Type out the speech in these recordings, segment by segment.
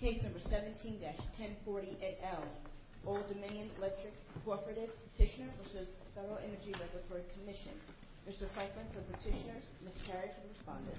Case number 17-1040 et al. Old Dominion Electric Cooperative Petitioner v. Federal Energy Regulatory Commission. Mr. Freitman for petitioners, Ms. Carrick for the respondent.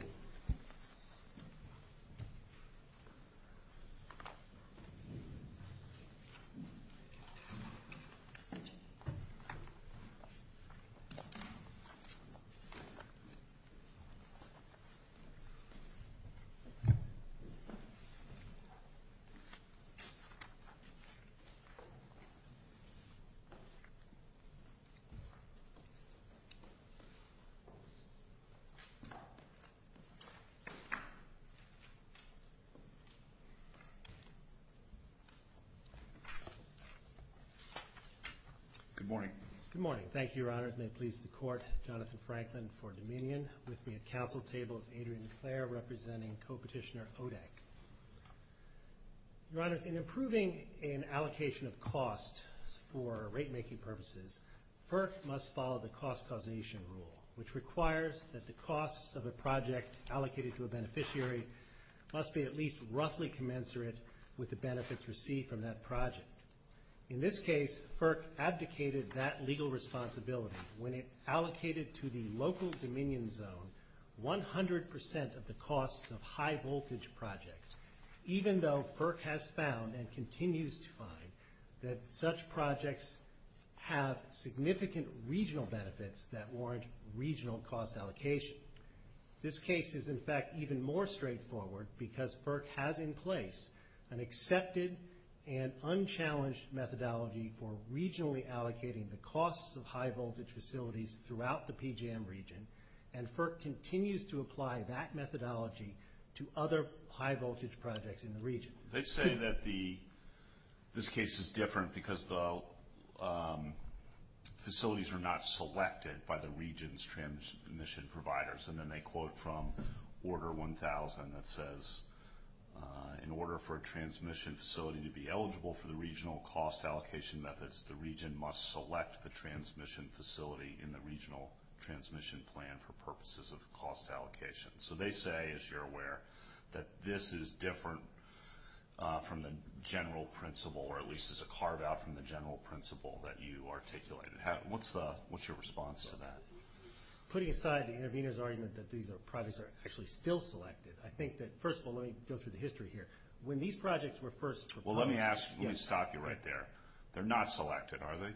Good morning. Good morning. Thank you, Your Honor. It may please the Court, Jonathan Franklin for Dominion. With me at council table is Adrian DeClaire representing Co-Petitioner ODEC. Your Honor, in approving an allocation of costs for rate-making purposes, FERC must follow the cost causation rule, which requires that the costs of a project allocated to a beneficiary must be at least roughly commensurate with the benefits received from that project. In this case, FERC abdicated that legal responsibility when it allocated to the local Dominion zone 100% of the costs of high-voltage projects, even though FERC has found and continues to find that such projects have significant regional benefits that warrant regional cost allocation. This case is, in fact, even more straightforward because FERC has in place an accepted and unchallenged methodology for regionally allocating the costs of high-voltage facilities throughout the PGM region, and FERC continues to apply that methodology to other high-voltage projects in the region. They say that this case is different because the facilities are not selected by the region's transmission providers, and then they quote from Order 1000 that says, in order for a transmission facility to be eligible for the regional cost allocation methods, the region must select the transmission facility in the regional transmission plan for purposes of cost allocation. So they say, as you're aware, that this is different from the general principle, or at least is a carve-out from the general principle that you articulated. What's your response to that? Putting aside the intervener's argument that these projects are actually still selected, I think that, first of all, let me go through the history here. When these projects were first proposedó Well, let me stop you right there. They're not selected, are they?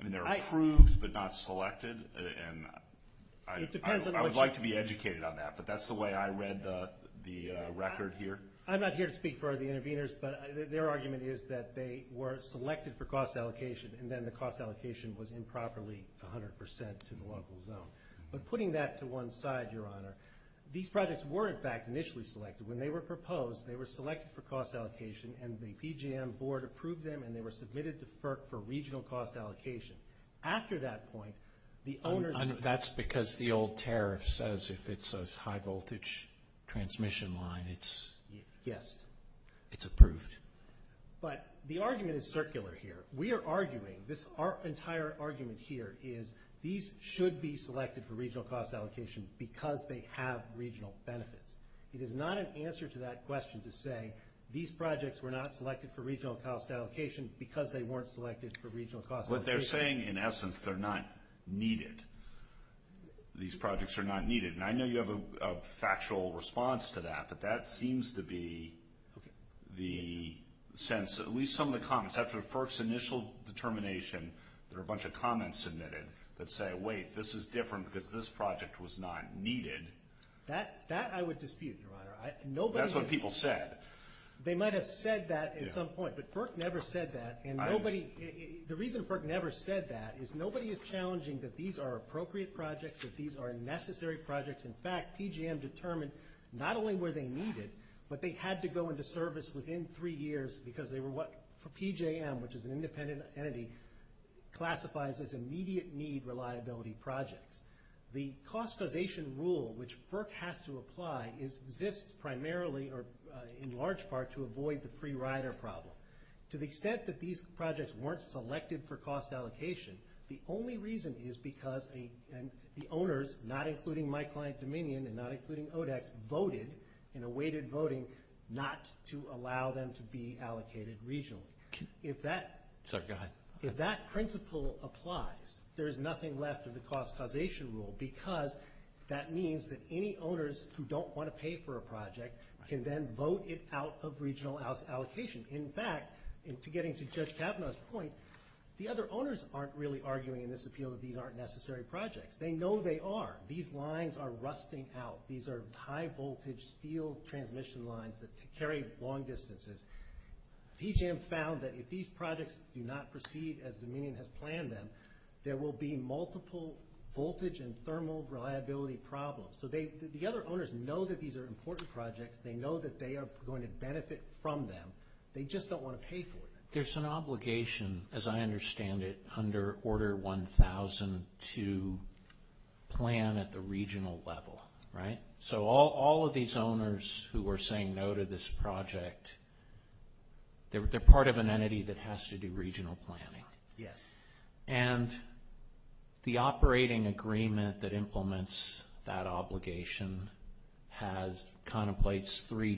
I mean, they're approved but not selected, and I would like to be educated on that, but that's the way I read the record here. I'm not here to speak for the interveners, but their argument is that they were selected for cost allocation and then the cost allocation was improperly 100 percent to the local zone. But putting that to one side, Your Honor, these projects were, in fact, initially selected. When they were proposed, they were selected for cost allocation, and the PGM board approved them, and they were submitted to FERC for regional cost allocation. After that point, the owneró That's because the old tariff says if it's a high-voltage transmission line, it'só Yes. It's approved. But the argument is circular here. We are arguingóthis entire argument here is these should be selected for regional cost allocation because they have regional benefits. It is not an answer to that question to say these projects were not selected for regional cost allocation because they weren't selected for regional cost allocation. What they're saying, in essence, they're not needed. These projects are not needed, and I know you have a factual response to that, but that seems to be the sense, at least some of the comments. After FERC's initial determination, there are a bunch of comments submitted that say, wait, this is different because this project was not needed. That I would dispute, Your Honor. That's what people said. They might have said that at some point, but FERC never said that, and the reason FERC never said that is nobody is challenging that these are appropriate projects, that these are necessary projects. In fact, PGM determined not only were they needed, but they had to go into service within three years because they were what, for PJM, which is an independent entity, classifies as immediate need reliability projects. The cost causation rule which FERC has to apply exists primarily or in large part to avoid the free rider problem. To the extent that these projects weren't selected for cost allocation, the only reason is because the owners, not including my client Dominion and not including ODEC, voted and awaited voting not to allow them to be allocated regionally. If that principle applies, there is nothing left of the cost causation rule because that means that any owners who don't want to pay for a project can then vote it out of regional allocation. In fact, getting to Judge Kavanaugh's point, the other owners aren't really arguing in this appeal that these aren't necessary projects. They know they are. These lines are rusting out. These are high-voltage steel transmission lines that carry long distances. PJM found that if these projects do not proceed as Dominion has planned them, there will be multiple voltage and thermal reliability problems. So the other owners know that these are important projects. They know that they are going to benefit from them. They just don't want to pay for them. There's an obligation, as I understand it, under Order 1000 to plan at the regional level, right? So all of these owners who are saying no to this project, they're part of an entity that has to do regional planning. Yes. And the operating agreement that implements that obligation contemplates three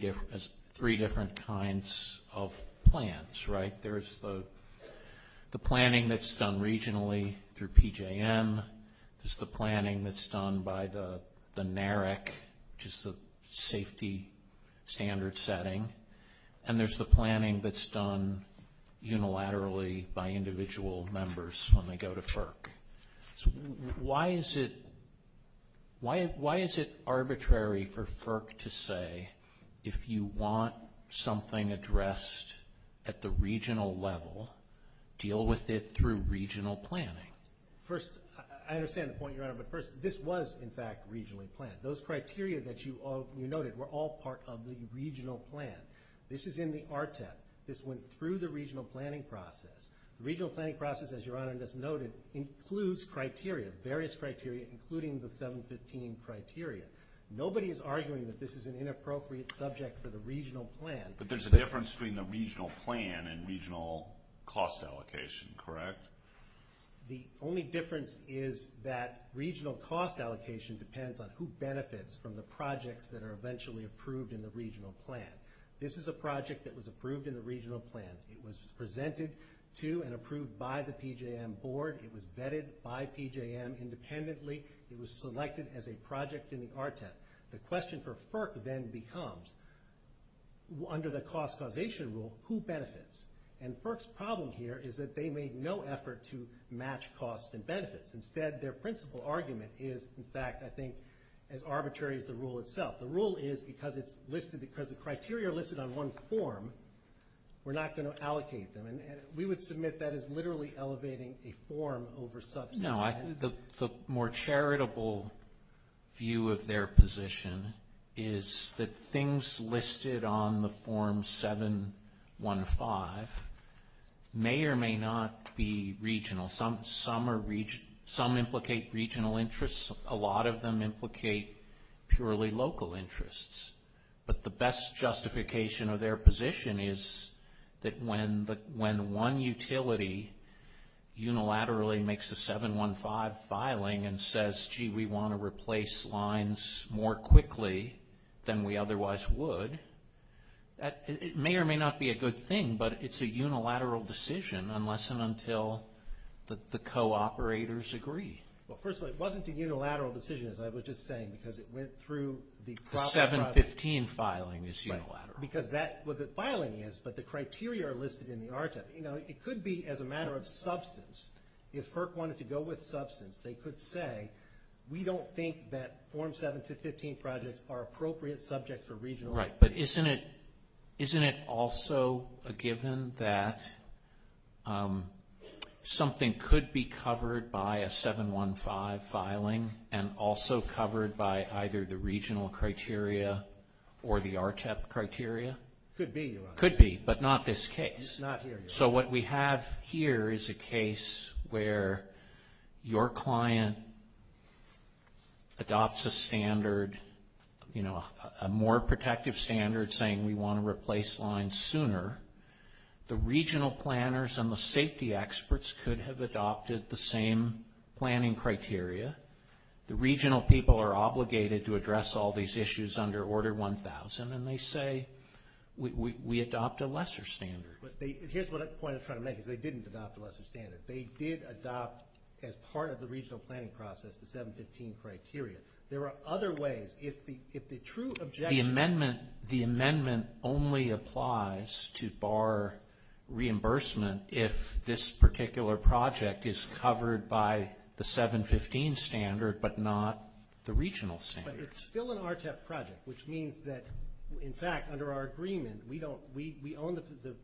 different kinds of plans, right? There's the planning that's done regionally through PJM. There's the planning that's done by the NARIC, which is the safety standard setting. And there's the planning that's done unilaterally by individual members when they go to FERC. Why is it arbitrary for FERC to say, if you want something addressed at the regional level, deal with it through regional planning? First, I understand the point, Your Honor, but first, this was, in fact, regionally planned. Those criteria that you noted were all part of the regional plan. This is in the RTEP. This went through the regional planning process. The regional planning process, as Your Honor just noted, includes criteria, various criteria, including the 715 criteria. Nobody is arguing that this is an inappropriate subject for the regional plan. But there's a difference between the regional plan and regional cost allocation, correct? The only difference is that regional cost allocation depends on who benefits from the projects that are eventually approved in the regional plan. This is a project that was approved in the regional plan. It was presented to and approved by the PJM board. It was vetted by PJM independently. It was selected as a project in the RTEP. The question for FERC then becomes, under the cost causation rule, who benefits? And FERC's problem here is that they made no effort to match costs and benefits. Instead, their principal argument is, in fact, I think, as arbitrary as the rule itself. The rule is because it's listed, because the criteria are listed on one form, we're not going to allocate them. And we would submit that is literally elevating a form over substance. No, the more charitable view of their position is that things listed on the form 715 may or may not be regional. Some implicate regional interests. A lot of them implicate purely local interests. But the best justification of their position is that when one utility unilaterally makes a 715 filing and says, gee, we want to replace lines more quickly than we otherwise would, it may or may not be a good thing, but it's a unilateral decision unless and until the co-operators agree. Well, first of all, it wasn't a unilateral decision, as I was just saying, because it went through the proper process. The 715 filing is unilateral. Right, because that's what the filing is, but the criteria are listed in the RTEP. You know, it could be as a matter of substance. If FERC wanted to go with substance, they could say, we don't think that Form 715 projects are appropriate subjects for regional applications. Right, but isn't it also a given that something could be covered by a 715 filing and also covered by either the regional criteria or the RTEP criteria? Could be, Your Honor. Could be, but not this case. Not here, Your Honor. So what we have here is a case where your client adopts a standard, you know, a more protective standard saying we want to replace lines sooner. The regional planners and the safety experts could have adopted the same planning criteria. The regional people are obligated to address all these issues under Order 1000, and they say we adopt a lesser standard. Here's what the point I'm trying to make is they didn't adopt a lesser standard. They did adopt, as part of the regional planning process, the 715 criteria. There are other ways. If the true objective of the amendment only applies to bar reimbursement if this particular project is covered by the 715 standard but not the regional standard. But it's still an RTEP project, which means that, in fact, under our agreement, we own the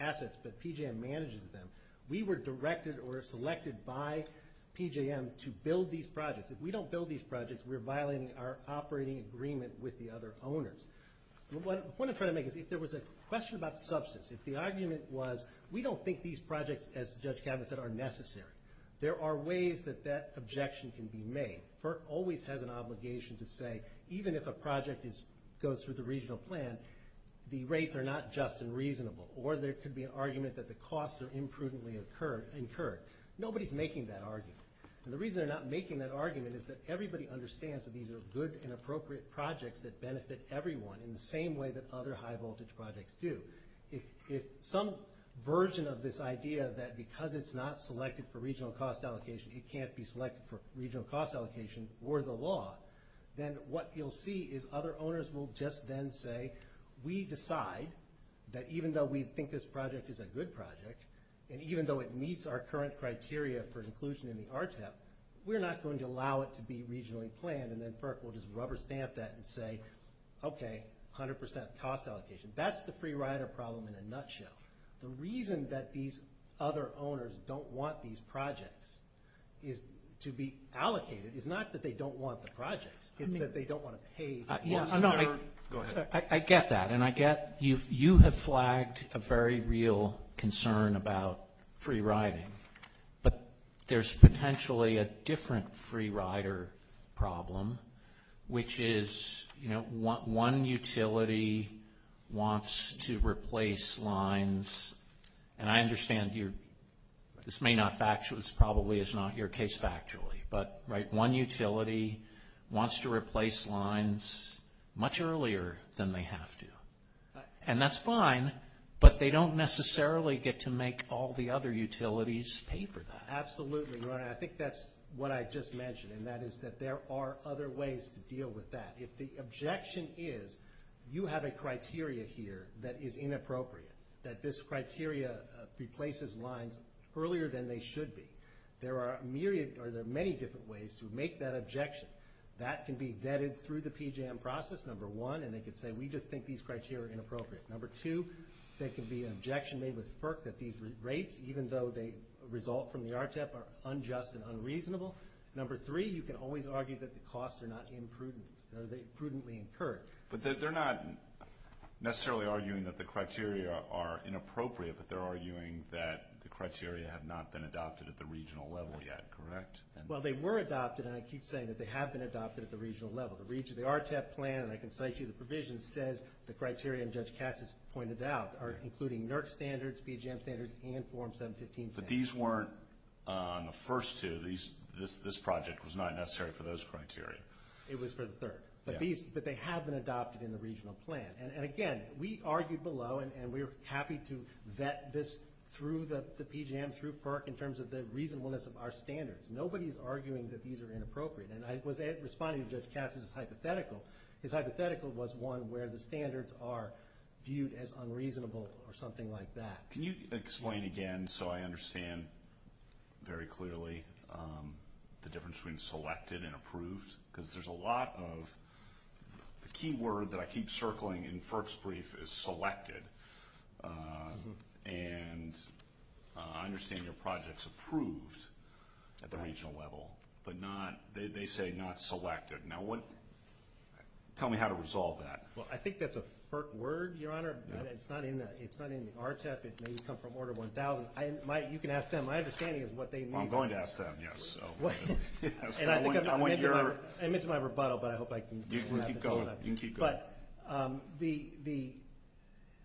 assets but PJM manages them. We were directed or selected by PJM to build these projects. If we don't build these projects, we're violating our operating agreement with the other owners. The point I'm trying to make is if there was a question about substance, if the argument was we don't think these projects, as Judge Kavanaugh said, are necessary, there are ways that that objection can be made. FERC always has an obligation to say even if a project goes through the regional plan, the rates are not just and reasonable, or there could be an argument that the costs are imprudently incurred. Nobody's making that argument. And the reason they're not making that argument is that everybody understands that these are good and appropriate projects that benefit everyone in the same way that other high-voltage projects do. If some version of this idea that because it's not selected for regional cost allocation, it can't be selected for regional cost allocation or the law, then what you'll see is other owners will just then say, we decide that even though we think this project is a good project and even though it meets our current criteria for inclusion in the RTEP, we're not going to allow it to be regionally planned. And then FERC will just rubber stamp that and say, okay, 100% cost allocation. That's the free rider problem in a nutshell. The reason that these other owners don't want these projects to be allocated is not that they don't want the projects. It's that they don't want to pay. I get that, and I get you have flagged a very real concern about free riding. But there's potentially a different free rider problem, which is one utility wants to replace lines, and I understand this probably is not your case factually, but one utility wants to replace lines much earlier than they have to. And that's fine, but they don't necessarily get to make all the other utilities pay for that. Absolutely. I think that's what I just mentioned, and that is that there are other ways to deal with that. If the objection is you have a criteria here that is inappropriate, that this criteria replaces lines earlier than they should be, there are many different ways to make that objection. That can be vetted through the PJM process, number one, and they can say we just think these criteria are inappropriate. Number two, there can be an objection made with FERC that these rates, even though they result from the RTEP, are unjust and unreasonable. Number three, you can always argue that the costs are not imprudent, that they are prudently incurred. But they're not necessarily arguing that the criteria are inappropriate, but they're arguing that the criteria have not been adopted at the regional level yet, correct? Well, they were adopted, and I keep saying that they have been adopted at the regional level. The RTEP plan, and I can cite you the provisions, says the criteria, and Judge Katz has pointed out, are including NERC standards, PJM standards, and Form 715 standards. And these weren't on the first two. This project was not necessary for those criteria. It was for the third. But they have been adopted in the regional plan. And again, we argued below, and we're happy to vet this through the PJM, through FERC in terms of the reasonableness of our standards. Nobody is arguing that these are inappropriate. And I was responding to Judge Katz's hypothetical. His hypothetical was one where the standards are viewed as unreasonable or something like that. Can you explain again so I understand very clearly the difference between selected and approved? Because there's a lot of the key word that I keep circling in FERC's brief is selected. And I understand your project is approved at the regional level, but they say not selected. Now, tell me how to resolve that. Well, I think that's a FERC word, Your Honor. It's not in the RTEP. It may come from Order 1000. You can ask them. My understanding is what they mean. I'm going to ask them, yes. And I think I meant to my rebuttal, but I hope I didn't have to. You can keep going. But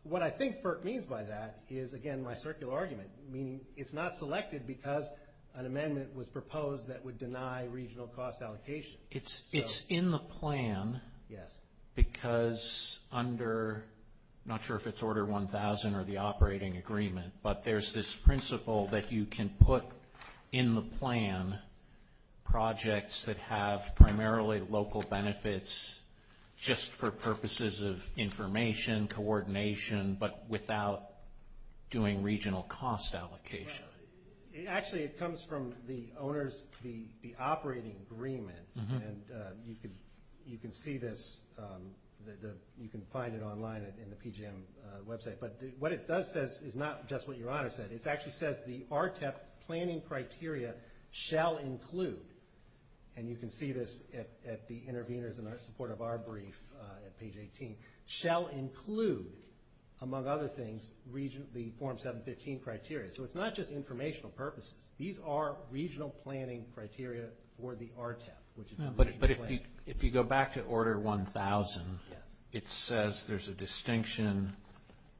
what I think FERC means by that is, again, my circular argument, meaning it's not selected because an amendment was proposed that would deny regional cost allocation. It's in the plan. Yes. Because under, I'm not sure if it's Order 1000 or the operating agreement, but there's this principle that you can put in the plan projects that have primarily local benefits just for purposes of information, coordination, but without doing regional cost allocation. Actually, it comes from the owner's operating agreement, and you can see this. You can find it online in the PJM website. But what it does say is not just what Your Honor said. It actually says the RTEP planning criteria shall include, and you can see this at the interveners in support of our brief at page 18, shall include, among other things, the Form 715 criteria. So it's not just informational purposes. These are regional planning criteria for the RTEP, which is the regional planning. But if you go back to Order 1000, it says there's a distinction.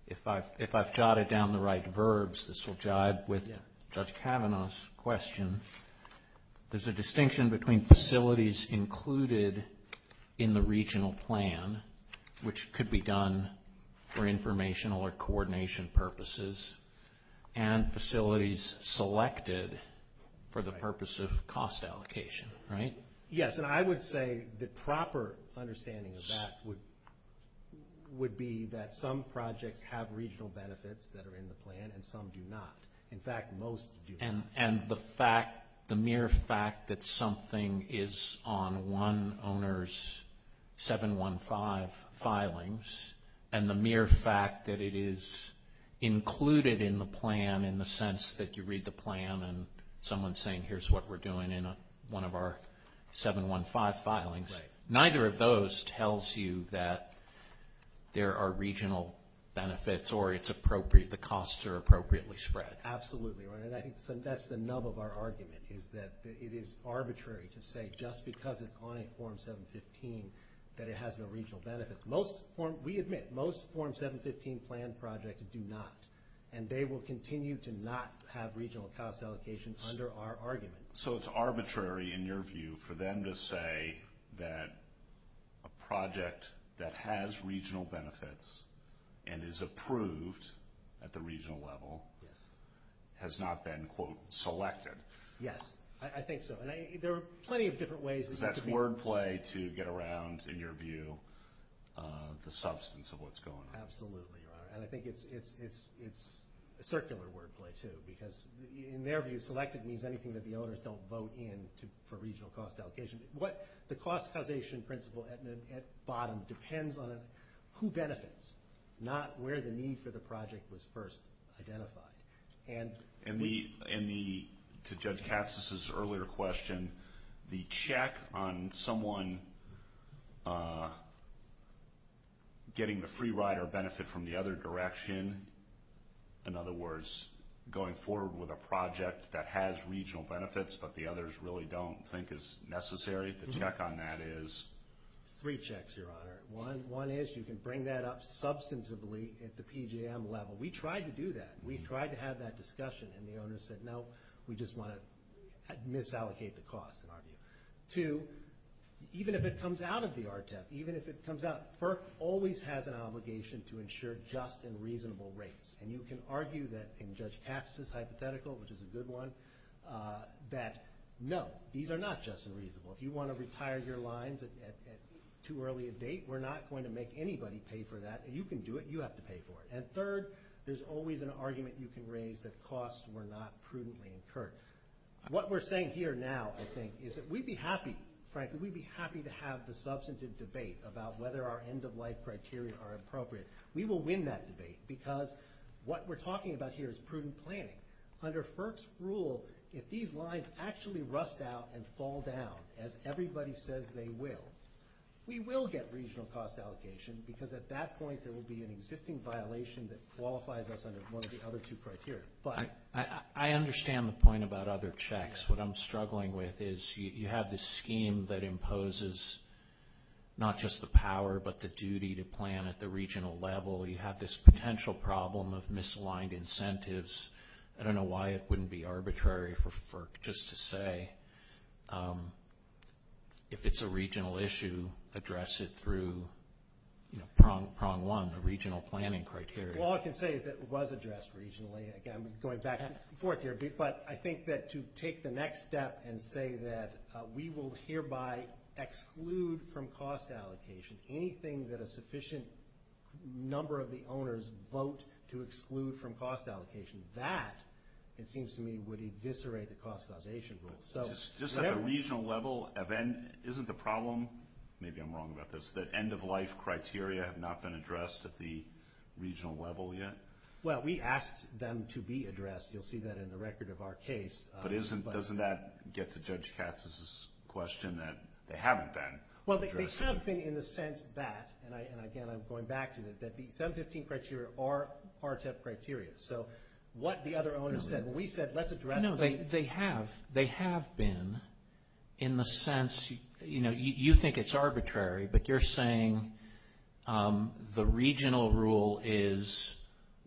If I've jotted down the right verbs, this will jibe with Judge Kavanaugh's question. There's a distinction between facilities included in the regional plan, which could be done for informational or coordination purposes, and facilities selected for the purpose of cost allocation, right? Yes, and I would say the proper understanding of that would be that some projects have regional benefits that are in the plan and some do not. In fact, most do not. And the mere fact that something is on one owner's 715 filings and the mere fact that it is included in the plan in the sense that you read the plan and someone's saying here's what we're doing in one of our 715 filings, neither of those tells you that there are regional benefits or the costs are appropriately spread. Absolutely, and I think that's the nub of our argument, is that it is arbitrary to say just because it's on a Form 715 that it has no regional benefits. We admit most Form 715 plan projects do not, and they will continue to not have regional cost allocation under our argument. So it's arbitrary in your view for them to say that a project that has regional benefits and is approved at the regional level has not been, quote, selected. Yes, I think so, and there are plenty of different ways. Because that's wordplay to get around, in your view, the substance of what's going on. Absolutely, Your Honor, and I think it's circular wordplay, too, because in their view selected means anything that the owners don't vote in for regional cost allocation. The cost causation principle at the bottom depends on who benefits, not where the need for the project was first identified. And to Judge Katz's earlier question, the check on someone getting the free ride or benefit from the other direction, in other words, going forward with a project that has regional benefits but the others really don't think is necessary, the check on that is? It's three checks, Your Honor. One is you can bring that up substantively at the PGM level. We tried to do that. We tried to have that discussion, and the owners said, no, we just want to misallocate the cost, in our view. Two, even if it comes out of the RTEF, even if it comes out, FERC always has an obligation to ensure just and reasonable rates. And you can argue that in Judge Katz's hypothetical, which is a good one, that no, these are not just and reasonable. If you want to retire your lines at too early a date, we're not going to make anybody pay for that. You can do it. You have to pay for it. And third, there's always an argument you can raise that costs were not prudently incurred. What we're saying here now, I think, is that we'd be happy, frankly, we'd be happy to have the substantive debate about whether our end-of-life criteria are appropriate. We will win that debate because what we're talking about here is prudent planning. Under FERC's rule, if these lines actually rust out and fall down, as everybody says they will, we will get regional cost allocation because at that point there will be an existing violation that qualifies us under one of the other two criteria. I understand the point about other checks. What I'm struggling with is you have this scheme that imposes not just the power but the duty to plan at the regional level. You have this potential problem of misaligned incentives. I don't know why it wouldn't be arbitrary for FERC just to say if it's a regional issue, address it through prong one, the regional planning criteria. All I can say is it was addressed regionally. I'm going back and forth here. But I think that to take the next step and say that we will hereby exclude from cost allocation anything that a sufficient number of the owners vote to exclude from cost allocation, that, it seems to me, would eviscerate the cost causation rule. Just at the regional level, isn't the problem, maybe I'm wrong about this, that end-of-life criteria have not been addressed at the regional level yet? Well, we asked them to be addressed. You'll see that in the record of our case. But doesn't that get to Judge Katz's question that they haven't been addressed? Well, they have been in the sense that, and, again, I'm going back to it, that the 715 criteria are RTEP criteria. So what the other owners said, well, we said let's address them. No, they have. They have been in the sense, you know, you think it's arbitrary, but you're saying the regional rule is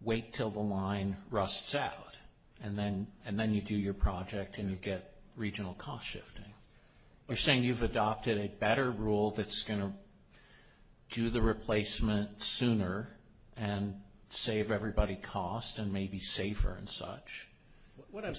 wait until the line rusts out, and then you do your project and you get regional cost shifting. You're saying you've adopted a better rule that's going to do the replacement sooner and save everybody cost and may be safer and such. What I'm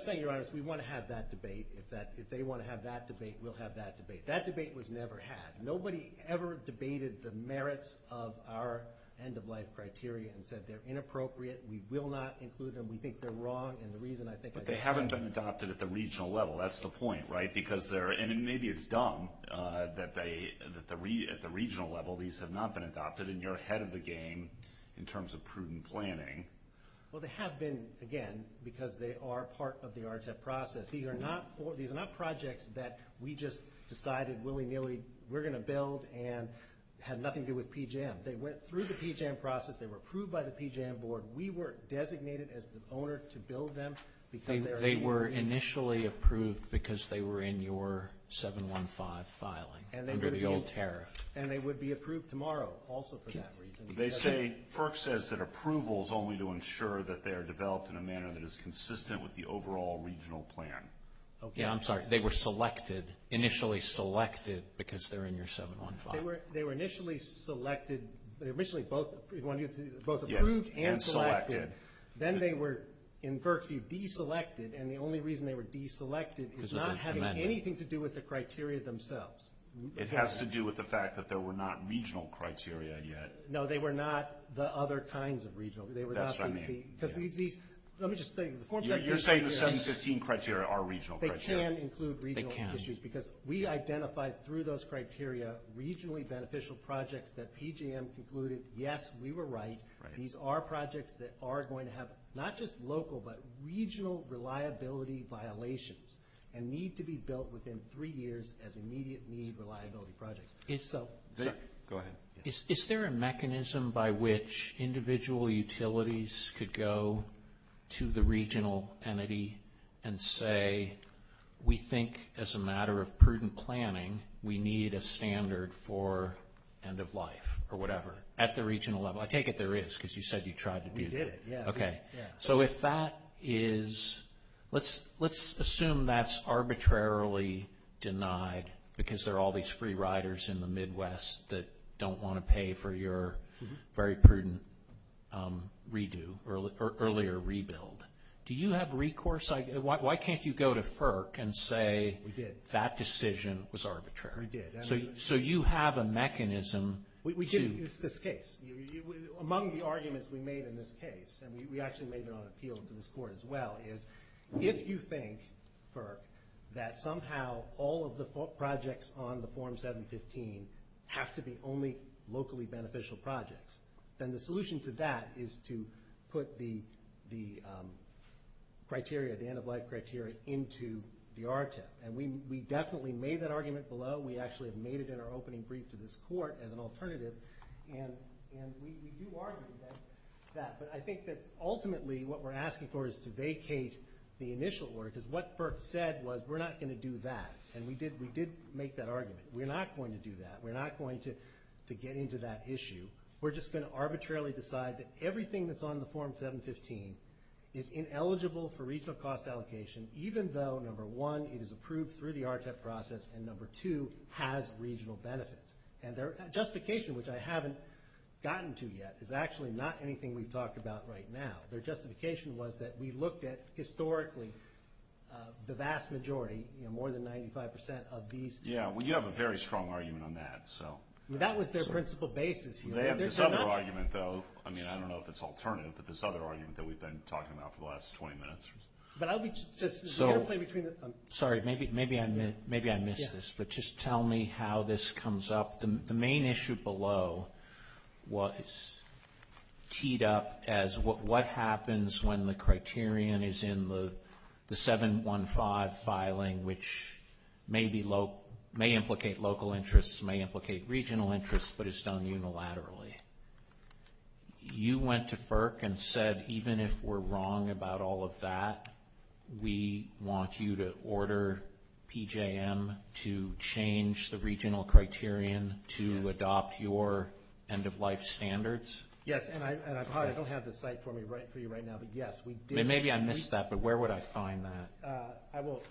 saying, Your Honor, is we want to have that debate. If they want to have that debate, we'll have that debate. That debate was never had. Nobody ever debated the merits of our end-of-life criteria and said they're inappropriate, we will not include them, we think they're wrong, and the reason I think I just said it. They have not been adopted at the regional level. That's the point, right? Because they're – and maybe it's dumb that at the regional level these have not been adopted, and you're ahead of the game in terms of prudent planning. Well, they have been, again, because they are part of the RTEP process. These are not projects that we just decided willy-nilly we're going to build and have nothing to do with PJM. They went through the PJM process. They were approved by the PJM board. We were designated as the owner to build them. They were initially approved because they were in your 715 filing under the old tariff. And they would be approved tomorrow also for that reason. FERC says that approval is only to ensure that they are developed in a manner that is consistent with the overall regional plan. I'm sorry. They were selected, initially selected, because they're in your 715. They were initially selected. They were initially both approved and selected. Then they were, in FERC's view, deselected, and the only reason they were deselected is not having anything to do with the criteria themselves. It has to do with the fact that there were not regional criteria yet. No, they were not the other kinds of regional. That's what I mean. Because these – let me just – You're saying the 715 criteria are regional criteria. They can include regional criteria. They can. Because we identified through those criteria regionally beneficial projects that PGM concluded, yes, we were right. These are projects that are going to have not just local but regional reliability violations and need to be built within three years as immediate need reliability projects. Go ahead. Is there a mechanism by which individual utilities could go to the regional entity and say we think as a matter of prudent planning we need a standard for end of life or whatever at the regional level? I take it there is because you said you tried to do that. We did, yeah. Okay. So if that is – let's assume that's arbitrarily denied because there are all these free riders in the Midwest that don't want to pay for your very prudent redo or earlier rebuild. Do you have recourse – why can't you go to FERC and say that decision was arbitrary? We did. So you have a mechanism to – It's this case. Among the arguments we made in this case, and we actually made it on appeal to this court as well, is if you think, FERC, that somehow all of the projects on the Form 715 have to be only locally beneficial projects, then the solution to that is to put the end of life criteria into the RTIP. And we definitely made that argument below. We actually made it in our opening brief to this court as an alternative, and we do argue that. But I think that ultimately what we're asking for is to vacate the initial order because what FERC said was we're not going to do that, and we did make that argument. We're not going to do that. We're not going to get into that issue. We're just going to arbitrarily decide that everything that's on the Form 715 is ineligible for regional cost allocation even though, number one, it is approved through the RTIP process, and number two, has regional benefits. And their justification, which I haven't gotten to yet, is actually not anything we've talked about right now. Their justification was that we looked at historically the vast majority, more than 95 percent of these. Yeah, well, you have a very strong argument on that. That was their principal basis. They have this other argument, though. I mean, I don't know if it's alternative, but this other argument that we've been talking about for the last 20 minutes. But I'll be just interplay between the two. Sorry, maybe I missed this, but just tell me how this comes up. The main issue below was teed up as what happens when the criterion is in the 715 filing, which may implicate local interests, may implicate regional interests, but is done unilaterally. You went to FERC and said, even if we're wrong about all of that, we want you to order PJM to change the regional criterion to adopt your end-of-life standards. Yes, and I don't have the site for you right now, but, yes, we did. Maybe I missed that, but where would I find that? I will.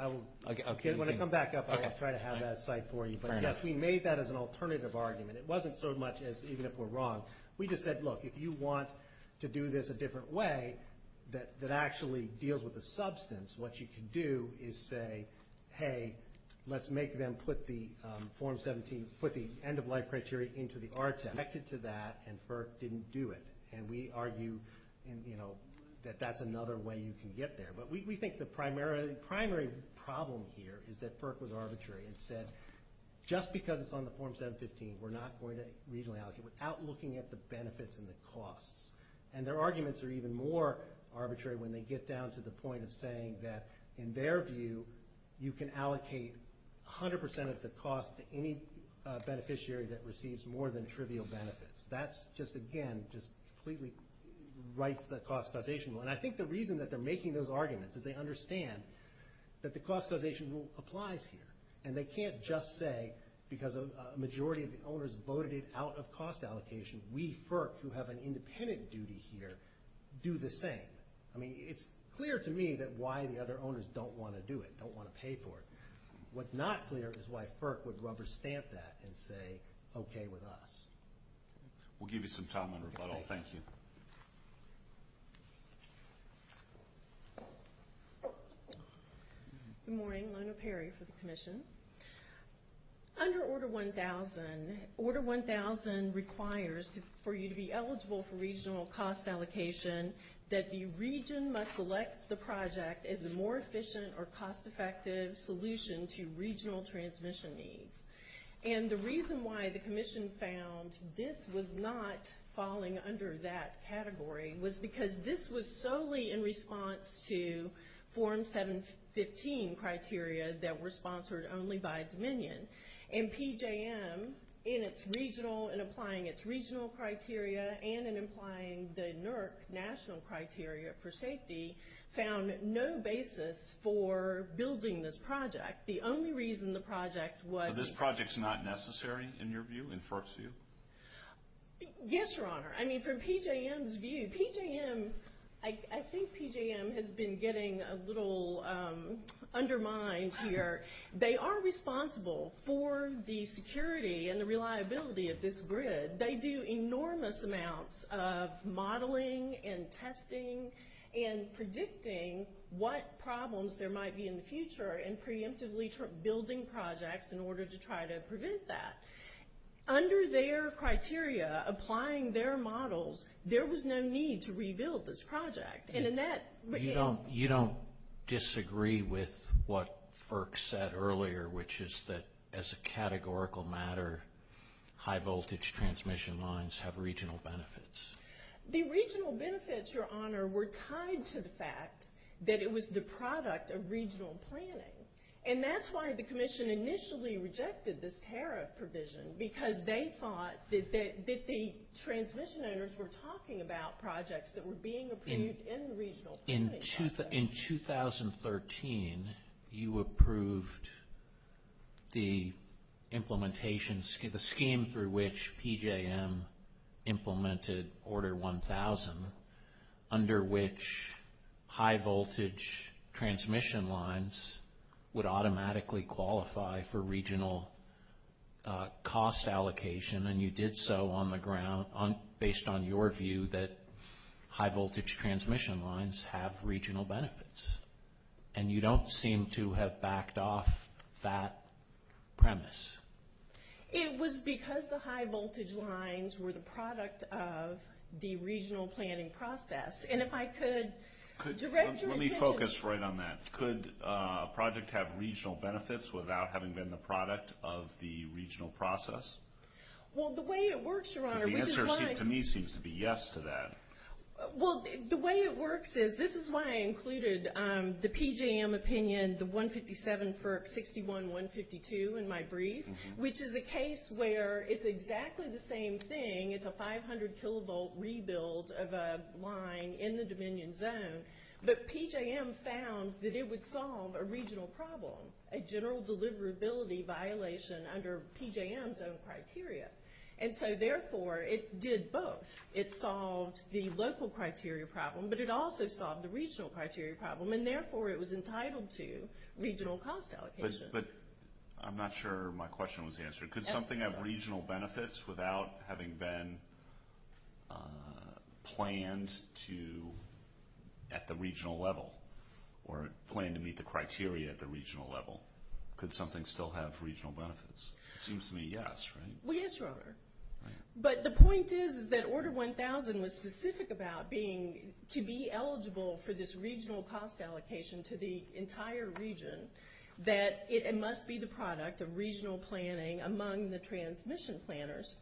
When I come back up, I will try to have that site for you. But, yes, we made that as an alternative argument. It wasn't so much as even if we're wrong. We just said, look, if you want to do this a different way that actually deals with the substance, what you can do is say, hey, let's make them put the end-of-life criteria into the RTEC. They connected to that, and FERC didn't do it. And we argue that that's another way you can get there. But we think the primary problem here is that FERC was arbitrary and said, just because it's on the Form 715, we're not going to regionally allocate it without looking at the benefits and the costs. And their arguments are even more arbitrary when they get down to the point of saying that, in their view, you can allocate 100% of the cost to any beneficiary that receives more than trivial benefits. That's just, again, just completely rights that cost causation. And I think the reason that they're making those arguments is they understand that the cost causation rule applies here. And they can't just say, because a majority of the owners voted it out of cost allocation, we, FERC, who have an independent duty here, do the same. I mean, it's clear to me that why the other owners don't want to do it, don't want to pay for it. What's not clear is why FERC would rubber stamp that and say, okay with us. We'll give you some time on rebuttal. Thank you. Good morning. Lona Perry for the Commission. Under Order 1000, Order 1000 requires for you to be eligible for regional cost allocation that the region must select the project as a more efficient or cost-effective solution to regional transmission needs. And the reason why the Commission found this was not falling under that category was because this was solely in response to Form 715 criteria that were sponsored only by Dominion. And PJM, in its regional, in applying its regional criteria, and in applying the NERC national criteria for safety, found no basis for building this project. The only reason the project was... So this project's not necessary in your view, in FERC's view? Yes, Your Honor. I mean, from PJM's view, PJM, I think PJM has been getting a little undermined here. They are responsible for the security and the reliability of this grid. They do enormous amounts of modeling and testing and predicting what problems there might be in the future and preemptively building projects in order to try to prevent that. Under their criteria, applying their models, there was no need to rebuild this project. And in that... You don't disagree with what FERC said earlier, which is that as a categorical matter, high-voltage transmission lines have regional benefits. The regional benefits, Your Honor, were tied to the fact that it was the product of regional planning. And that's why the Commission initially rejected this tariff provision, because they thought that the transmission owners were talking about projects that were being approved in the regional planning process. In 2013, you approved the implementation, the scheme through which PJM implemented Order 1000, under which high-voltage transmission lines would automatically qualify for regional cost allocation. And you did so on the ground based on your view that high-voltage transmission lines have regional benefits. And you don't seem to have backed off that premise. It was because the high-voltage lines were the product of the regional planning process. And if I could direct your attention... Let me focus right on that. Could a project have regional benefits without having been the product of the regional process? Well, the way it works, Your Honor, which is why... The answer to me seems to be yes to that. Well, the way it works is this is why I included the PJM opinion, the 157 FERC 61152 in my brief, which is a case where it's exactly the same thing. It's a 500-kilovolt rebuild of a line in the Dominion zone. But PJM found that it would solve a regional problem, a general deliverability violation under PJM's own criteria. And so, therefore, it did both. It solved the local criteria problem, but it also solved the regional criteria problem. And, therefore, it was entitled to regional cost allocation. But I'm not sure my question was answered. Could something have regional benefits without having been planned at the regional level or planned to meet the criteria at the regional level? Could something still have regional benefits? It seems to me yes, right? Well, yes, Your Honor. But the point is that Order 1000 was specific about being to be eligible for this regional cost allocation to the entire region, that it must be the product of regional planning among the transmission planners.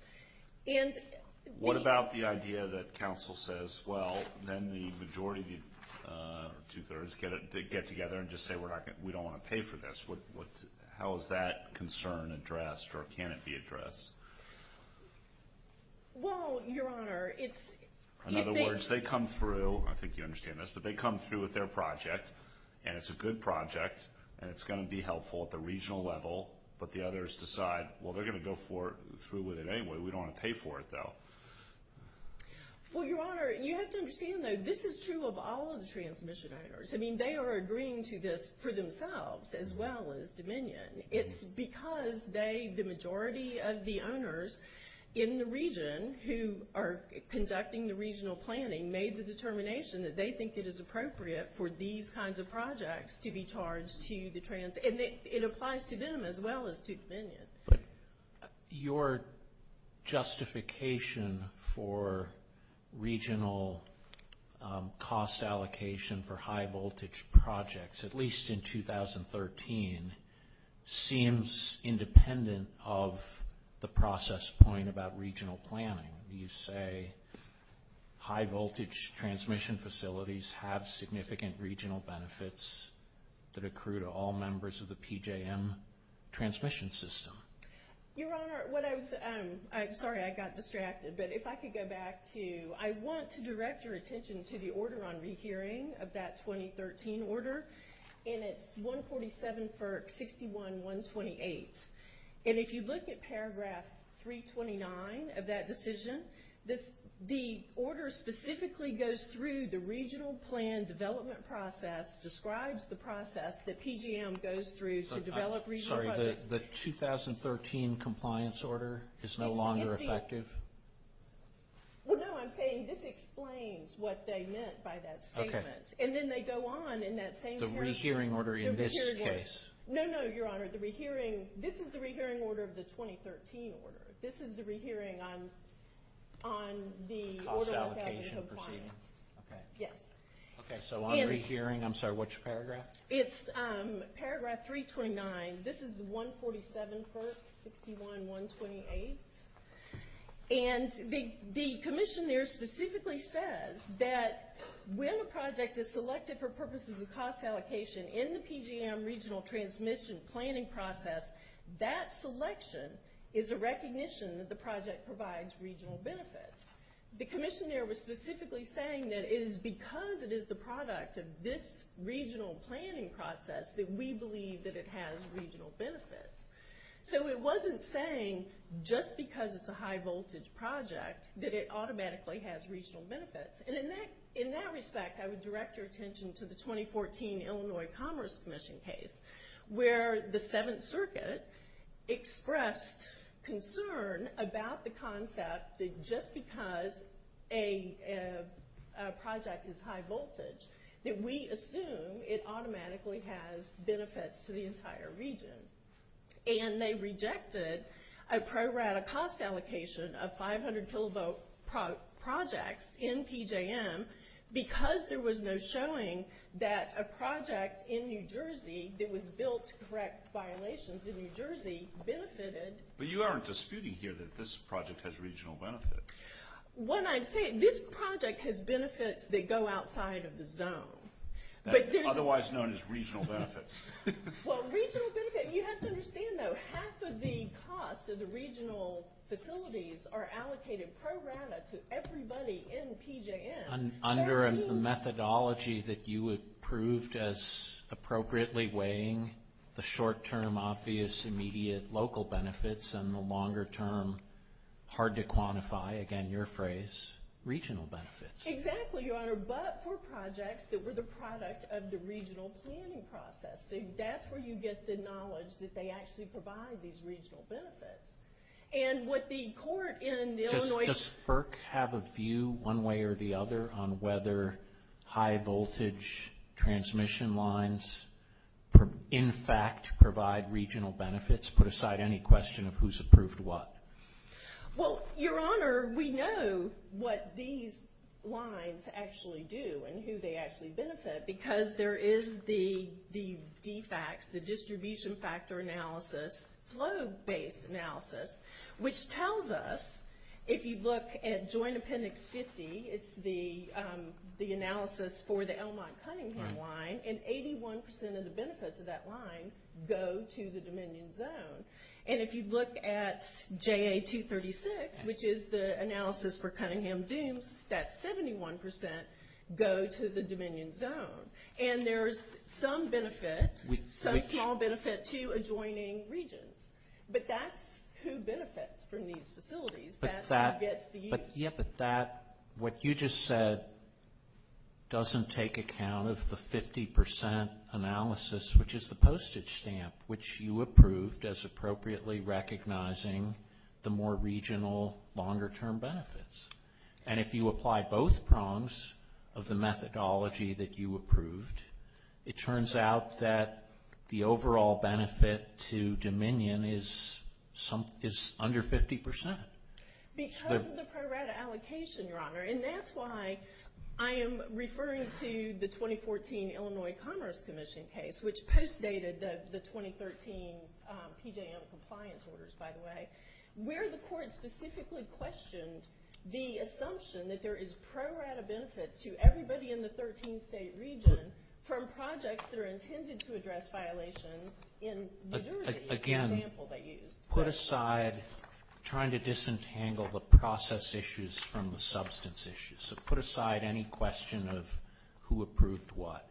What about the idea that counsel says, well, then the majority of the two-thirds get together and just say we don't want to pay for this? How is that concern addressed or can it be addressed? Well, Your Honor, it's – In other words, they come through – I think you understand this – but they come through with their project, and it's a good project, and it's going to be helpful at the regional level, but the others decide, well, they're going to go through with it anyway. We don't want to pay for it, though. Well, Your Honor, you have to understand, though, this is true of all of the transmission owners. I mean, they are agreeing to this for themselves as well as Dominion. It's because they, the majority of the owners in the region who are conducting the regional planning, made the determination that they think it is appropriate for these kinds of projects to be charged to the – and it applies to them as well as to Dominion. But your justification for regional cost allocation for high-voltage projects, at least in 2013, seems independent of the process point about regional planning. You say high-voltage transmission facilities have significant regional benefits that accrue to all members of the PJM transmission system. Your Honor, what I was – sorry, I got distracted. But if I could go back to – I want to direct your attention to the order on rehearing of that 2013 order, and it's 147 FERC 61-128. And if you look at paragraph 329 of that decision, the order specifically goes through the regional plan development process, describes the process that PJM goes through to develop regional projects. Sorry, the 2013 compliance order is no longer effective? Well, no, I'm saying this explains what they meant by that statement. Okay. And then they go on in that same paragraph. The rehearing order in this case. No, no, Your Honor. The rehearing – this is the rehearing order of the 2013 order. This is the rehearing on the order on capacity compliance. Okay. Yes. Okay, so on rehearing – I'm sorry, which paragraph? It's paragraph 329. This is the 147 FERC 61-128. And the commission there specifically says that when a project is selected for purposes of cost allocation in the PJM regional transmission planning process, that selection is a recognition that the project provides regional benefits. The commission there was specifically saying that it is because it is the product of this regional planning process that we believe that it has regional benefits. So it wasn't saying just because it's a high-voltage project that it automatically has regional benefits. And in that respect, I would direct your attention to the 2014 Illinois Commerce Commission case where the Seventh Circuit expressed concern about the concept that just because a project is high-voltage that we assume it automatically has benefits to the entire region. And they rejected a pro-rata cost allocation of 500-kilovolt projects in PJM because there was no showing that a project in New Jersey that was built to correct violations in New Jersey benefited. But you aren't disputing here that this project has regional benefits. What I'm saying, this project has benefits that go outside of the zone. Otherwise known as regional benefits. Well, regional benefits, you have to understand, though, half of the costs of the regional facilities are allocated pro-rata to everybody in PJM. Under a methodology that you approved as appropriately weighing the short-term obvious immediate local benefits and the longer-term hard-to-quantify, again, your phrase, regional benefits. Exactly, Your Honor. But for projects that were the product of the regional planning process. That's where you get the knowledge that they actually provide these regional benefits. And what the court in Illinois- Does FERC have a view one way or the other on whether high-voltage transmission lines in fact provide regional benefits? Put aside any question of who's approved what. Well, Your Honor, we know what these lines actually do and who they actually benefit because there is the DFAX, the distribution factor analysis, flow-based analysis, which tells us if you look at Joint Appendix 50, it's the analysis for the Elmont-Cunningham line, and 81% of the benefits of that line go to the Dominion Zone. And if you look at JA-236, which is the analysis for Cunningham-Dooms, that's 71% go to the Dominion Zone. And there's some benefit, some small benefit, to adjoining regions. But that's who benefits from these facilities. That's who gets the use. Yeah, but that, what you just said, doesn't take account of the 50% analysis, which is the postage stamp, which you approved as appropriately recognizing the more regional, longer-term benefits. And if you apply both prongs of the methodology that you approved, it turns out that the overall benefit to Dominion is under 50%. Because of the pro-rata allocation, Your Honor, and that's why I am referring to the 2014 Illinois Commerce Commission case, which postdated the 2013 PJM compliance orders, by the way, where the court specifically questioned the assumption that there is pro-rata benefits to everybody in the 13-state region from projects that are intended to address violations in New Jersey. Again, put aside trying to disentangle the process issues from the substance issues. So put aside any question of who approved what.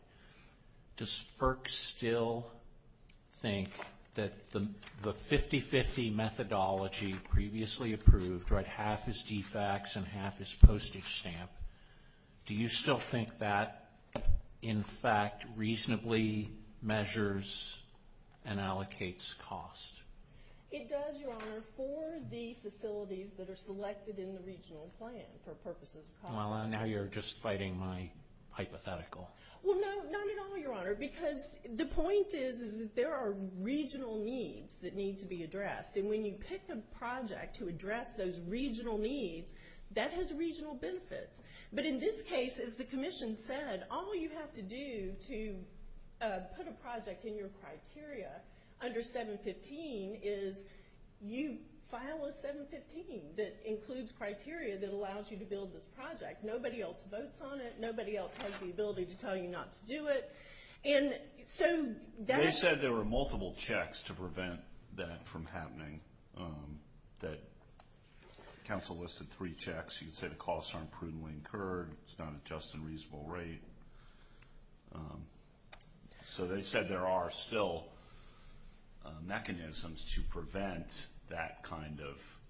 Does FERC still think that the 50-50 methodology previously approved, right, half is defects and half is postage stamp, do you still think that, in fact, reasonably measures and allocates cost? It does, Your Honor, for the facilities that are selected in the regional plan for purposes of cost. Well, now you're just fighting my hypothetical. Well, no, not at all, Your Honor, because the point is that there are regional needs that need to be addressed. And when you pick a project to address those regional needs, that has regional benefits. But in this case, as the commission said, all you have to do to put a project in your criteria under 715 is you file a 715 that includes criteria that allows you to build this project. Nobody else votes on it. Nobody else has the ability to tell you not to do it. They said there were multiple checks to prevent that from happening. The council listed three checks. You can say the costs aren't prudently incurred, it's not at just a reasonable rate. So they said there are still mechanisms to prevent that kind of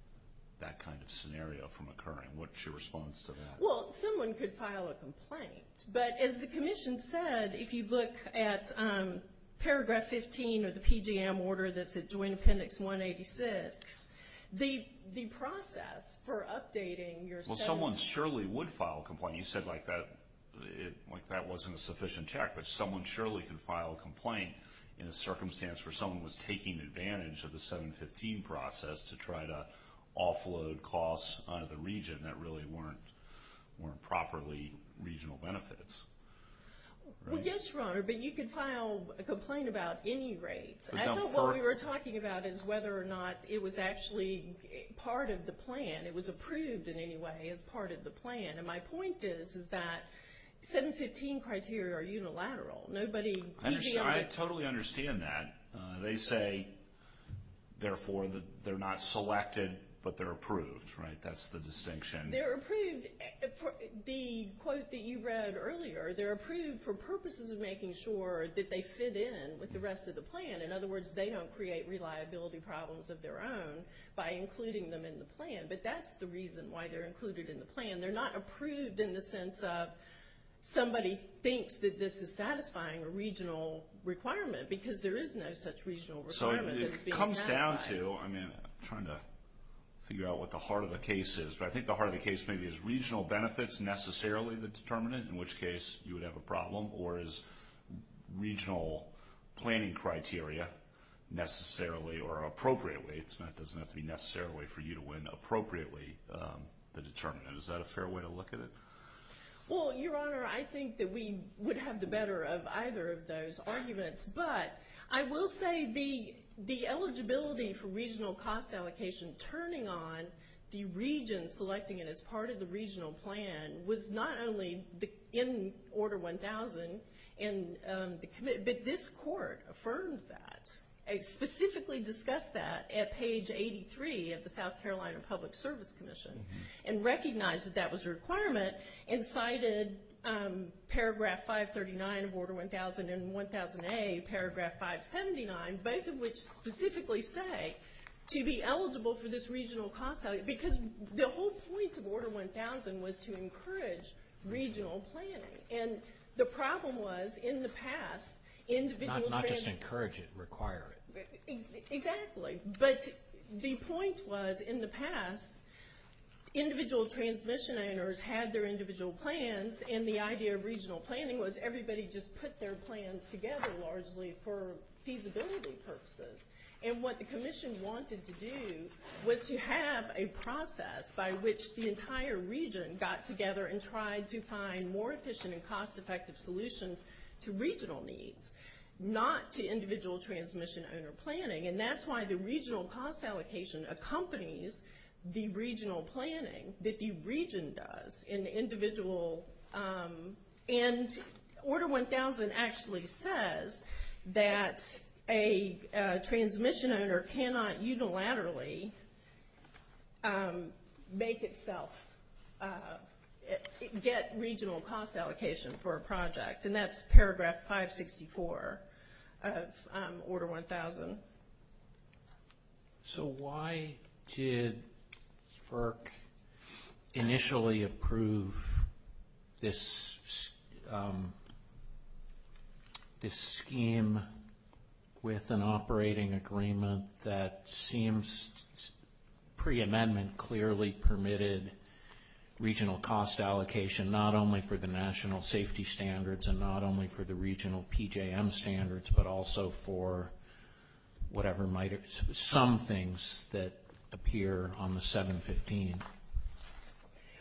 scenario from occurring. What's your response to that? Well, someone could file a complaint. But as the commission said, if you look at Paragraph 15 of the PGM order that's at Joint Appendix 186, the process for updating your 715. Well, someone surely would file a complaint. You said, like, that wasn't a sufficient check. But someone surely can file a complaint in a circumstance where someone was taking advantage of the 715 process to try to offload costs out of the region that really weren't properly regional benefits. Well, yes, Your Honor, but you can file a complaint about any rate. I know what we were talking about is whether or not it was actually part of the plan. It was approved in any way as part of the plan. And my point is that 715 criteria are unilateral. I totally understand that. They say, therefore, that they're not selected, but they're approved, right? That's the distinction. They're approved. The quote that you read earlier, they're approved for purposes of making sure that they fit in with the rest of the plan. In other words, they don't create reliability problems of their own by including them in the plan. But that's the reason why they're included in the plan. They're not approved in the sense of somebody thinks that this is satisfying a regional requirement because there is no such regional requirement that's being satisfied. So it comes down to, I mean, I'm trying to figure out what the heart of the case is, but I think the heart of the case maybe is regional benefits necessarily the determinant, in which case you would have a problem, or is regional planning criteria necessarily or appropriately. It doesn't have to be necessarily for you to win appropriately the determinant. Is that a fair way to look at it? Well, Your Honor, I think that we would have the better of either of those arguments, but I will say the eligibility for regional cost allocation turning on the region selecting it as part of the regional plan was not only in Order 1000, but this court affirmed that. It specifically discussed that at page 83 of the South Carolina Public Service Commission and recognized that that was a requirement and cited Paragraph 539 of Order 1000 and 1000A, Paragraph 579, both of which specifically say to be eligible for this regional cost allocation because the whole point of Order 1000 was to encourage regional planning. And the problem was, in the past, individual transit— Not just encourage it, require it. Exactly, but the point was, in the past, individual transmission owners had their individual plans and the idea of regional planning was everybody just put their plans together largely for feasibility purposes. And what the commission wanted to do was to have a process by which the entire region got together and tried to find more efficient and cost-effective solutions to regional needs, not to individual transmission owner planning. And that's why the regional cost allocation accompanies the regional planning that the region does in the individual. And Order 1000 actually says that a transmission owner cannot unilaterally make itself get regional cost allocation for a project. And that's Paragraph 564 of Order 1000. So why did FERC initially approve this scheme with an operating agreement that seems pre-amendment clearly permitted regional cost allocation not only for the national safety standards and not only for the regional PJM standards, but also for whatever might—some things that appear on the 715?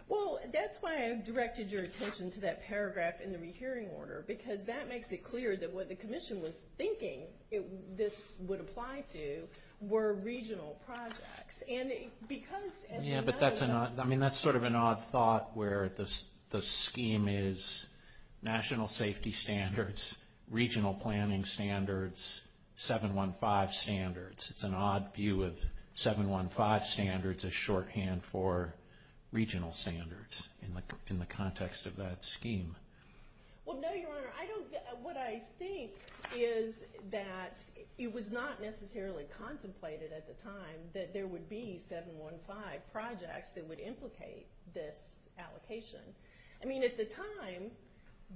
Well, that's why I directed your attention to that paragraph in the rehearing order, because that makes it clear that what the commission was thinking this would apply to were regional projects. Yeah, but that's sort of an odd thought where the scheme is national safety standards, regional planning standards, 715 standards. It's an odd view of 715 standards as shorthand for regional standards in the context of that scheme. Well, no, Your Honor. What I think is that it was not necessarily contemplated at the time that there would be 715 projects that would implicate this allocation. I mean, at the time,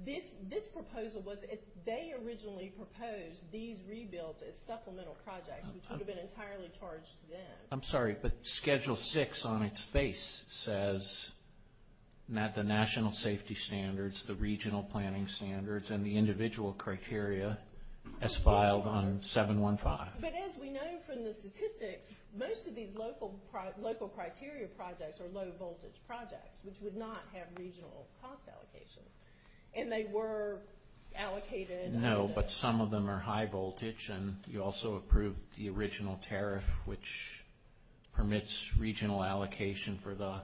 this proposal was—they originally proposed these rebuilds as supplemental projects, which would have been entirely charged to them. I'm sorry, but Schedule 6 on its face says that the national safety standards, the regional planning standards, and the individual criteria as filed on 715. But as we know from the statistics, most of these local criteria projects are low-voltage projects, which would not have regional cost allocation. And they were allocated— permits regional allocation for the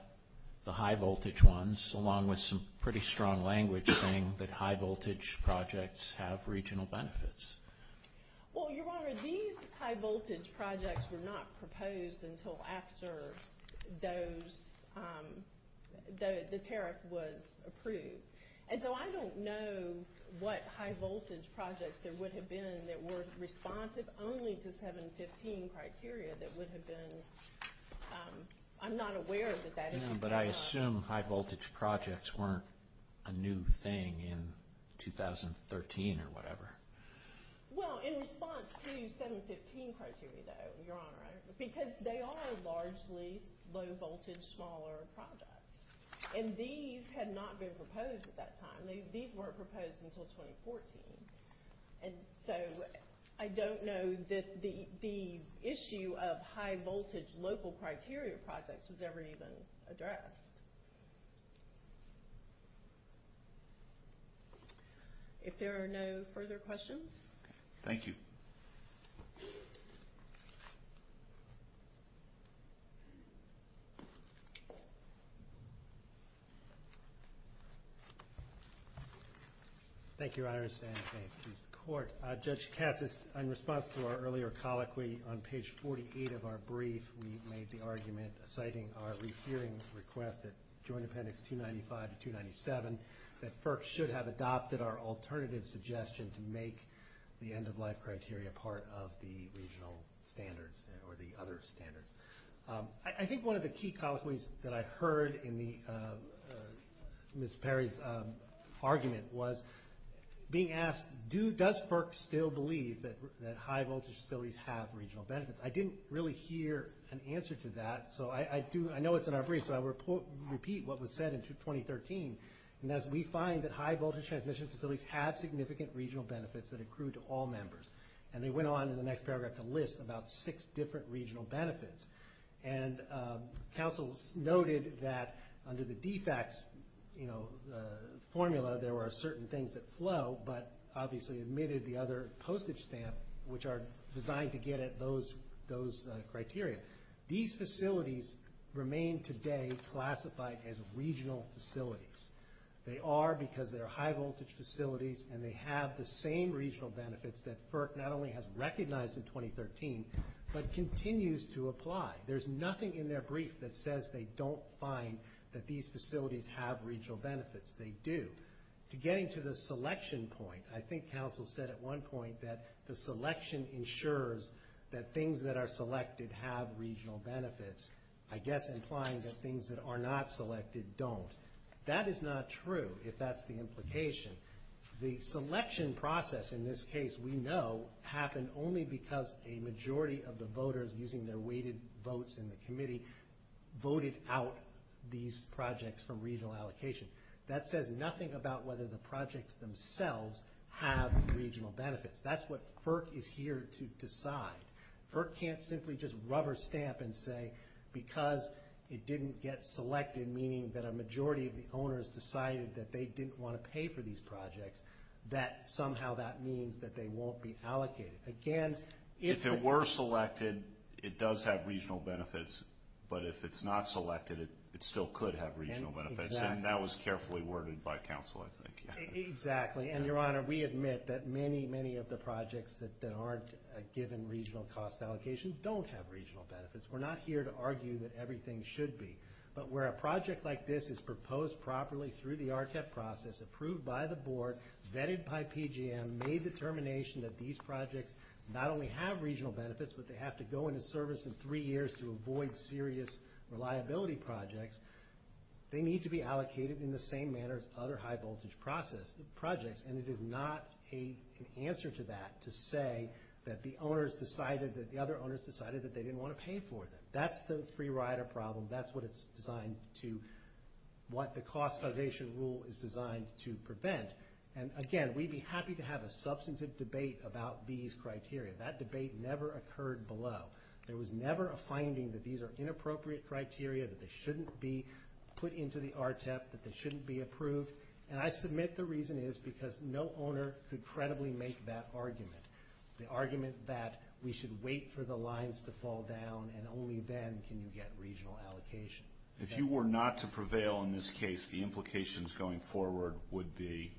high-voltage ones, along with some pretty strong language saying that high-voltage projects have regional benefits. Well, Your Honor, these high-voltage projects were not proposed until after those—the tariff was approved. And so I don't know what high-voltage projects there would have been that were responsive only to 715 criteria that would have been—I'm not aware that that is— But I assume high-voltage projects weren't a new thing in 2013 or whatever. Well, in response to 715 criteria, though, Your Honor, because they are largely low-voltage, smaller projects. And these had not been proposed at that time. These weren't proposed until 2014. And so I don't know that the issue of high-voltage local criteria projects was ever even addressed. If there are no further questions. Thank you. Thank you. Thank you, Your Honors, and may it please the Court. Judge Cassas, in response to our earlier colloquy on page 48 of our brief, we made the argument, citing our refeering request at Joint Appendix 295 to 297, that FERC should have adopted our alternative suggestion to make the end-of-life criteria part of the regional standards or the other standards. I think one of the key colloquies that I heard in Ms. Perry's argument was being asked, does FERC still believe that high-voltage facilities have regional benefits? I didn't really hear an answer to that, so I do—I know it's in our brief, so I will repeat what was said in 2013. And that is, we find that high-voltage transmission facilities have significant regional benefits that accrue to all members. And they went on in the next paragraph to list about six different regional benefits. And counsels noted that under the DFAC's formula, there were certain things that flow, but obviously admitted the other postage stamp, which are designed to get at those criteria. These facilities remain today classified as regional facilities. They are because they're high-voltage facilities, and they have the same regional benefits that FERC not only has recognized in 2013, but continues to apply. There's nothing in their brief that says they don't find that these facilities have regional benefits. They do. Getting to the selection point, I think counsel said at one point that the selection ensures that things that are selected have regional benefits, I guess implying that things that are not selected don't. That is not true, if that's the implication. The selection process in this case we know happened only because a majority of the voters, using their weighted votes in the committee, voted out these projects from regional allocation. That says nothing about whether the projects themselves have regional benefits. That's what FERC is here to decide. FERC can't simply just rubber stamp and say because it didn't get selected, meaning that a majority of the owners decided that they didn't want to pay for these projects, that somehow that means that they won't be allocated. Again, if it were selected, it does have regional benefits. But if it's not selected, it still could have regional benefits. And that was carefully worded by counsel, I think. Exactly. And, Your Honor, we admit that many, many of the projects that aren't given regional cost allocation don't have regional benefits. We're not here to argue that everything should be. But where a project like this is proposed properly through the RCAP process, approved by the board, vetted by PGM, made determination that these projects not only have regional benefits, but they have to go into service in three years to avoid serious reliability projects, they need to be allocated in the same manner as other high-voltage projects. And it is not an answer to that to say that the other owners decided that they didn't want to pay for them. That's the free rider problem. That's what the cost causation rule is designed to prevent. And, again, we'd be happy to have a substantive debate about these criteria. That debate never occurred below. There was never a finding that these are inappropriate criteria, that they shouldn't be put into the RTEP, that they shouldn't be approved. And I submit the reason is because no owner could credibly make that argument, the argument that we should wait for the lines to fall down, and only then can you get regional allocation. If you were not to prevail in this case, the implications going forward would be?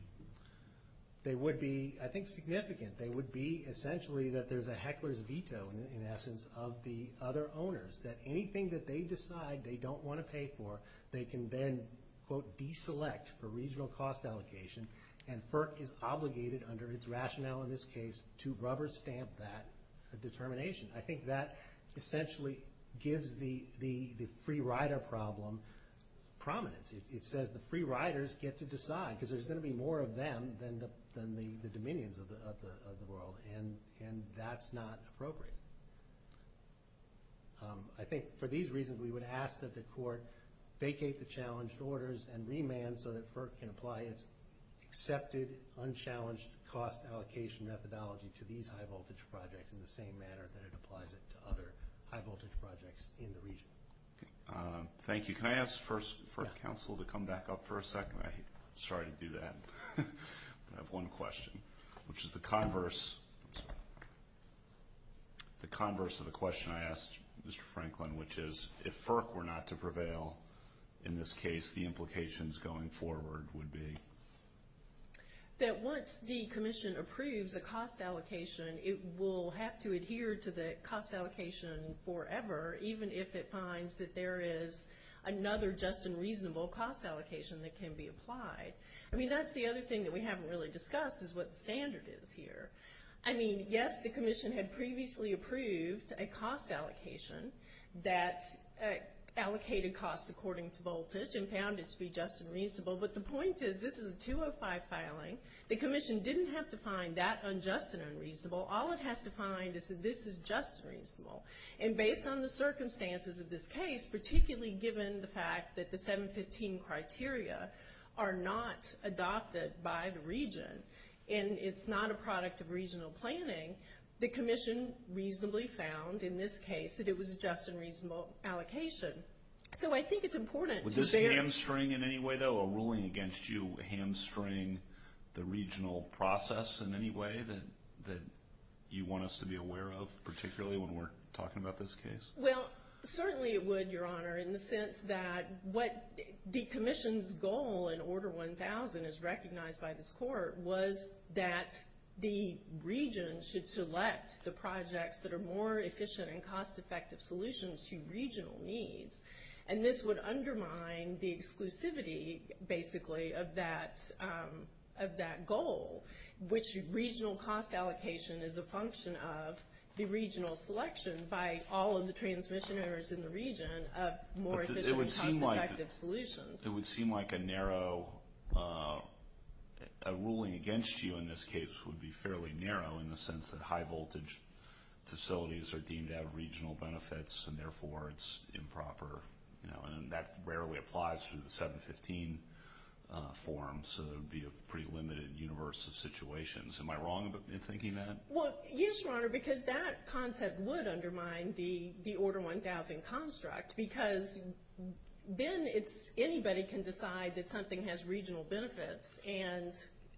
They would be, I think, significant. They would be essentially that there's a heckler's veto, in essence, of the other owners, that anything that they decide they don't want to pay for, they can then, quote, deselect for regional cost allocation, and FERC is obligated under its rationale in this case to rubber stamp that determination. I think that essentially gives the free rider problem prominence. It says the free riders get to decide, because there's going to be more of them than the dominions of the world, and that's not appropriate. I think for these reasons we would ask that the court vacate the challenged orders and remand so that FERC can apply its accepted, unchallenged cost allocation methodology to these high-voltage projects in the same manner that it applies it to other high-voltage projects in the region. Thank you. Can I ask first for counsel to come back up for a second? Sorry to do that. I have one question, which is the converse of the question I asked Mr. Franklin, which is if FERC were not to prevail, in this case, the implications going forward would be? That once the commission approves a cost allocation, it will have to adhere to the cost allocation forever, even if it finds that there is another just and reasonable cost allocation that can be applied. I mean, that's the other thing that we haven't really discussed is what the standard is here. I mean, yes, the commission had previously approved a cost allocation that allocated costs according to voltage and found it to be just and reasonable, but the point is this is a 205 filing. The commission didn't have to find that unjust and unreasonable. All it has to find is that this is just and reasonable, and based on the circumstances of this case, particularly given the fact that the 715 criteria are not adopted by the region and it's not a product of regional planning, the commission reasonably found in this case that it was just and reasonable allocation. So I think it's important to bear… Would this hamstring in any way, though, a ruling against you, hamstring the regional process in any way that you want us to be aware of, particularly when we're talking about this case? Well, certainly it would, Your Honor, in the sense that what the commission's goal in Order 1000, as recognized by this court, was that the region should select the projects that are more efficient and cost-effective solutions to regional needs, and this would undermine the exclusivity, basically, of that goal, which regional cost allocation is a function of the regional selection by all of the transmission areas in the region of more efficient and cost-effective solutions. It would seem like a narrow… A ruling against you in this case would be fairly narrow in the sense that high-voltage facilities are deemed to have regional benefits and therefore it's improper, and that rarely applies to the 715 form, so there would be a pretty limited universe of situations. Am I wrong in thinking that? Well, yes, Your Honor, because that concept would undermine the Order 1000 construct, because then anybody can decide that something has regional benefits and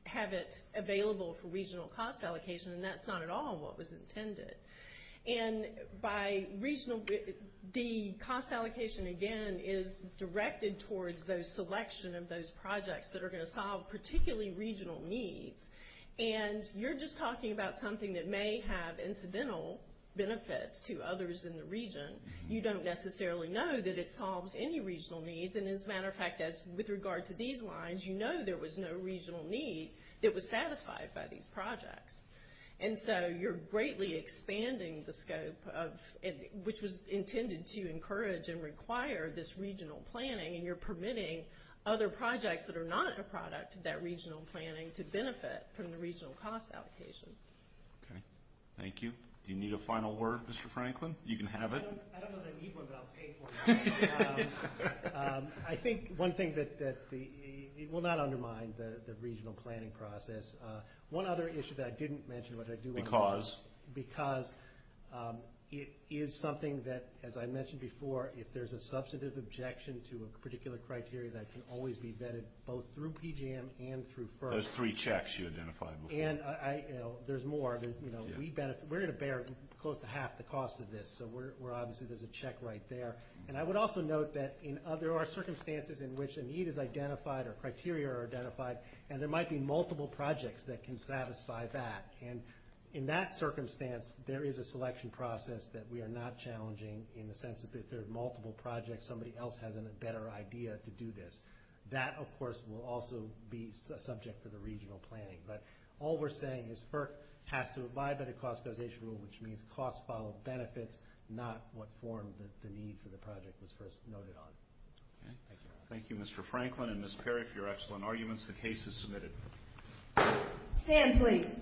have it available for regional cost allocation, and that's not at all what was intended. And by regional, the cost allocation, again, is directed towards the selection of those projects that are going to solve particularly regional needs, and you're just talking about something that may have incidental benefits to others in the region. You don't necessarily know that it solves any regional needs, and as a matter of fact, with regard to these lines, you know there was no regional need that was satisfied by these projects, and so you're greatly expanding the scope, which was intended to encourage and require this regional planning, and you're permitting other projects that are not a product of that regional planning to benefit from the regional cost allocation. Okay. Thank you. Do you need a final word, Mr. Franklin? You can have it. I don't know that I need one, but I'll take one. I think one thing that will not undermine the regional planning process. One other issue that I didn't mention, which I do want to talk about. Because? Because it is something that, as I mentioned before, if there's a substantive objection to a particular criteria, that can always be vetted both through PGM and through FERC. Those three checks you identified before. And there's more. We're going to bear close to half the cost of this, so obviously there's a check right there. And I would also note that there are circumstances in which a need is identified or criteria are identified, and there might be multiple projects that can satisfy that. And in that circumstance, there is a selection process that we are not challenging in the sense that if there are multiple projects, somebody else has a better idea to do this. That, of course, will also be a subject for the regional planning. But all we're saying is FERC has to abide by the cost causation rule, which means costs follow benefits, not what form the need for the project was first noted on. Thank you. Thank you, Mr. Franklin and Ms. Perry, for your excellent arguments. The case is submitted. Stand, please.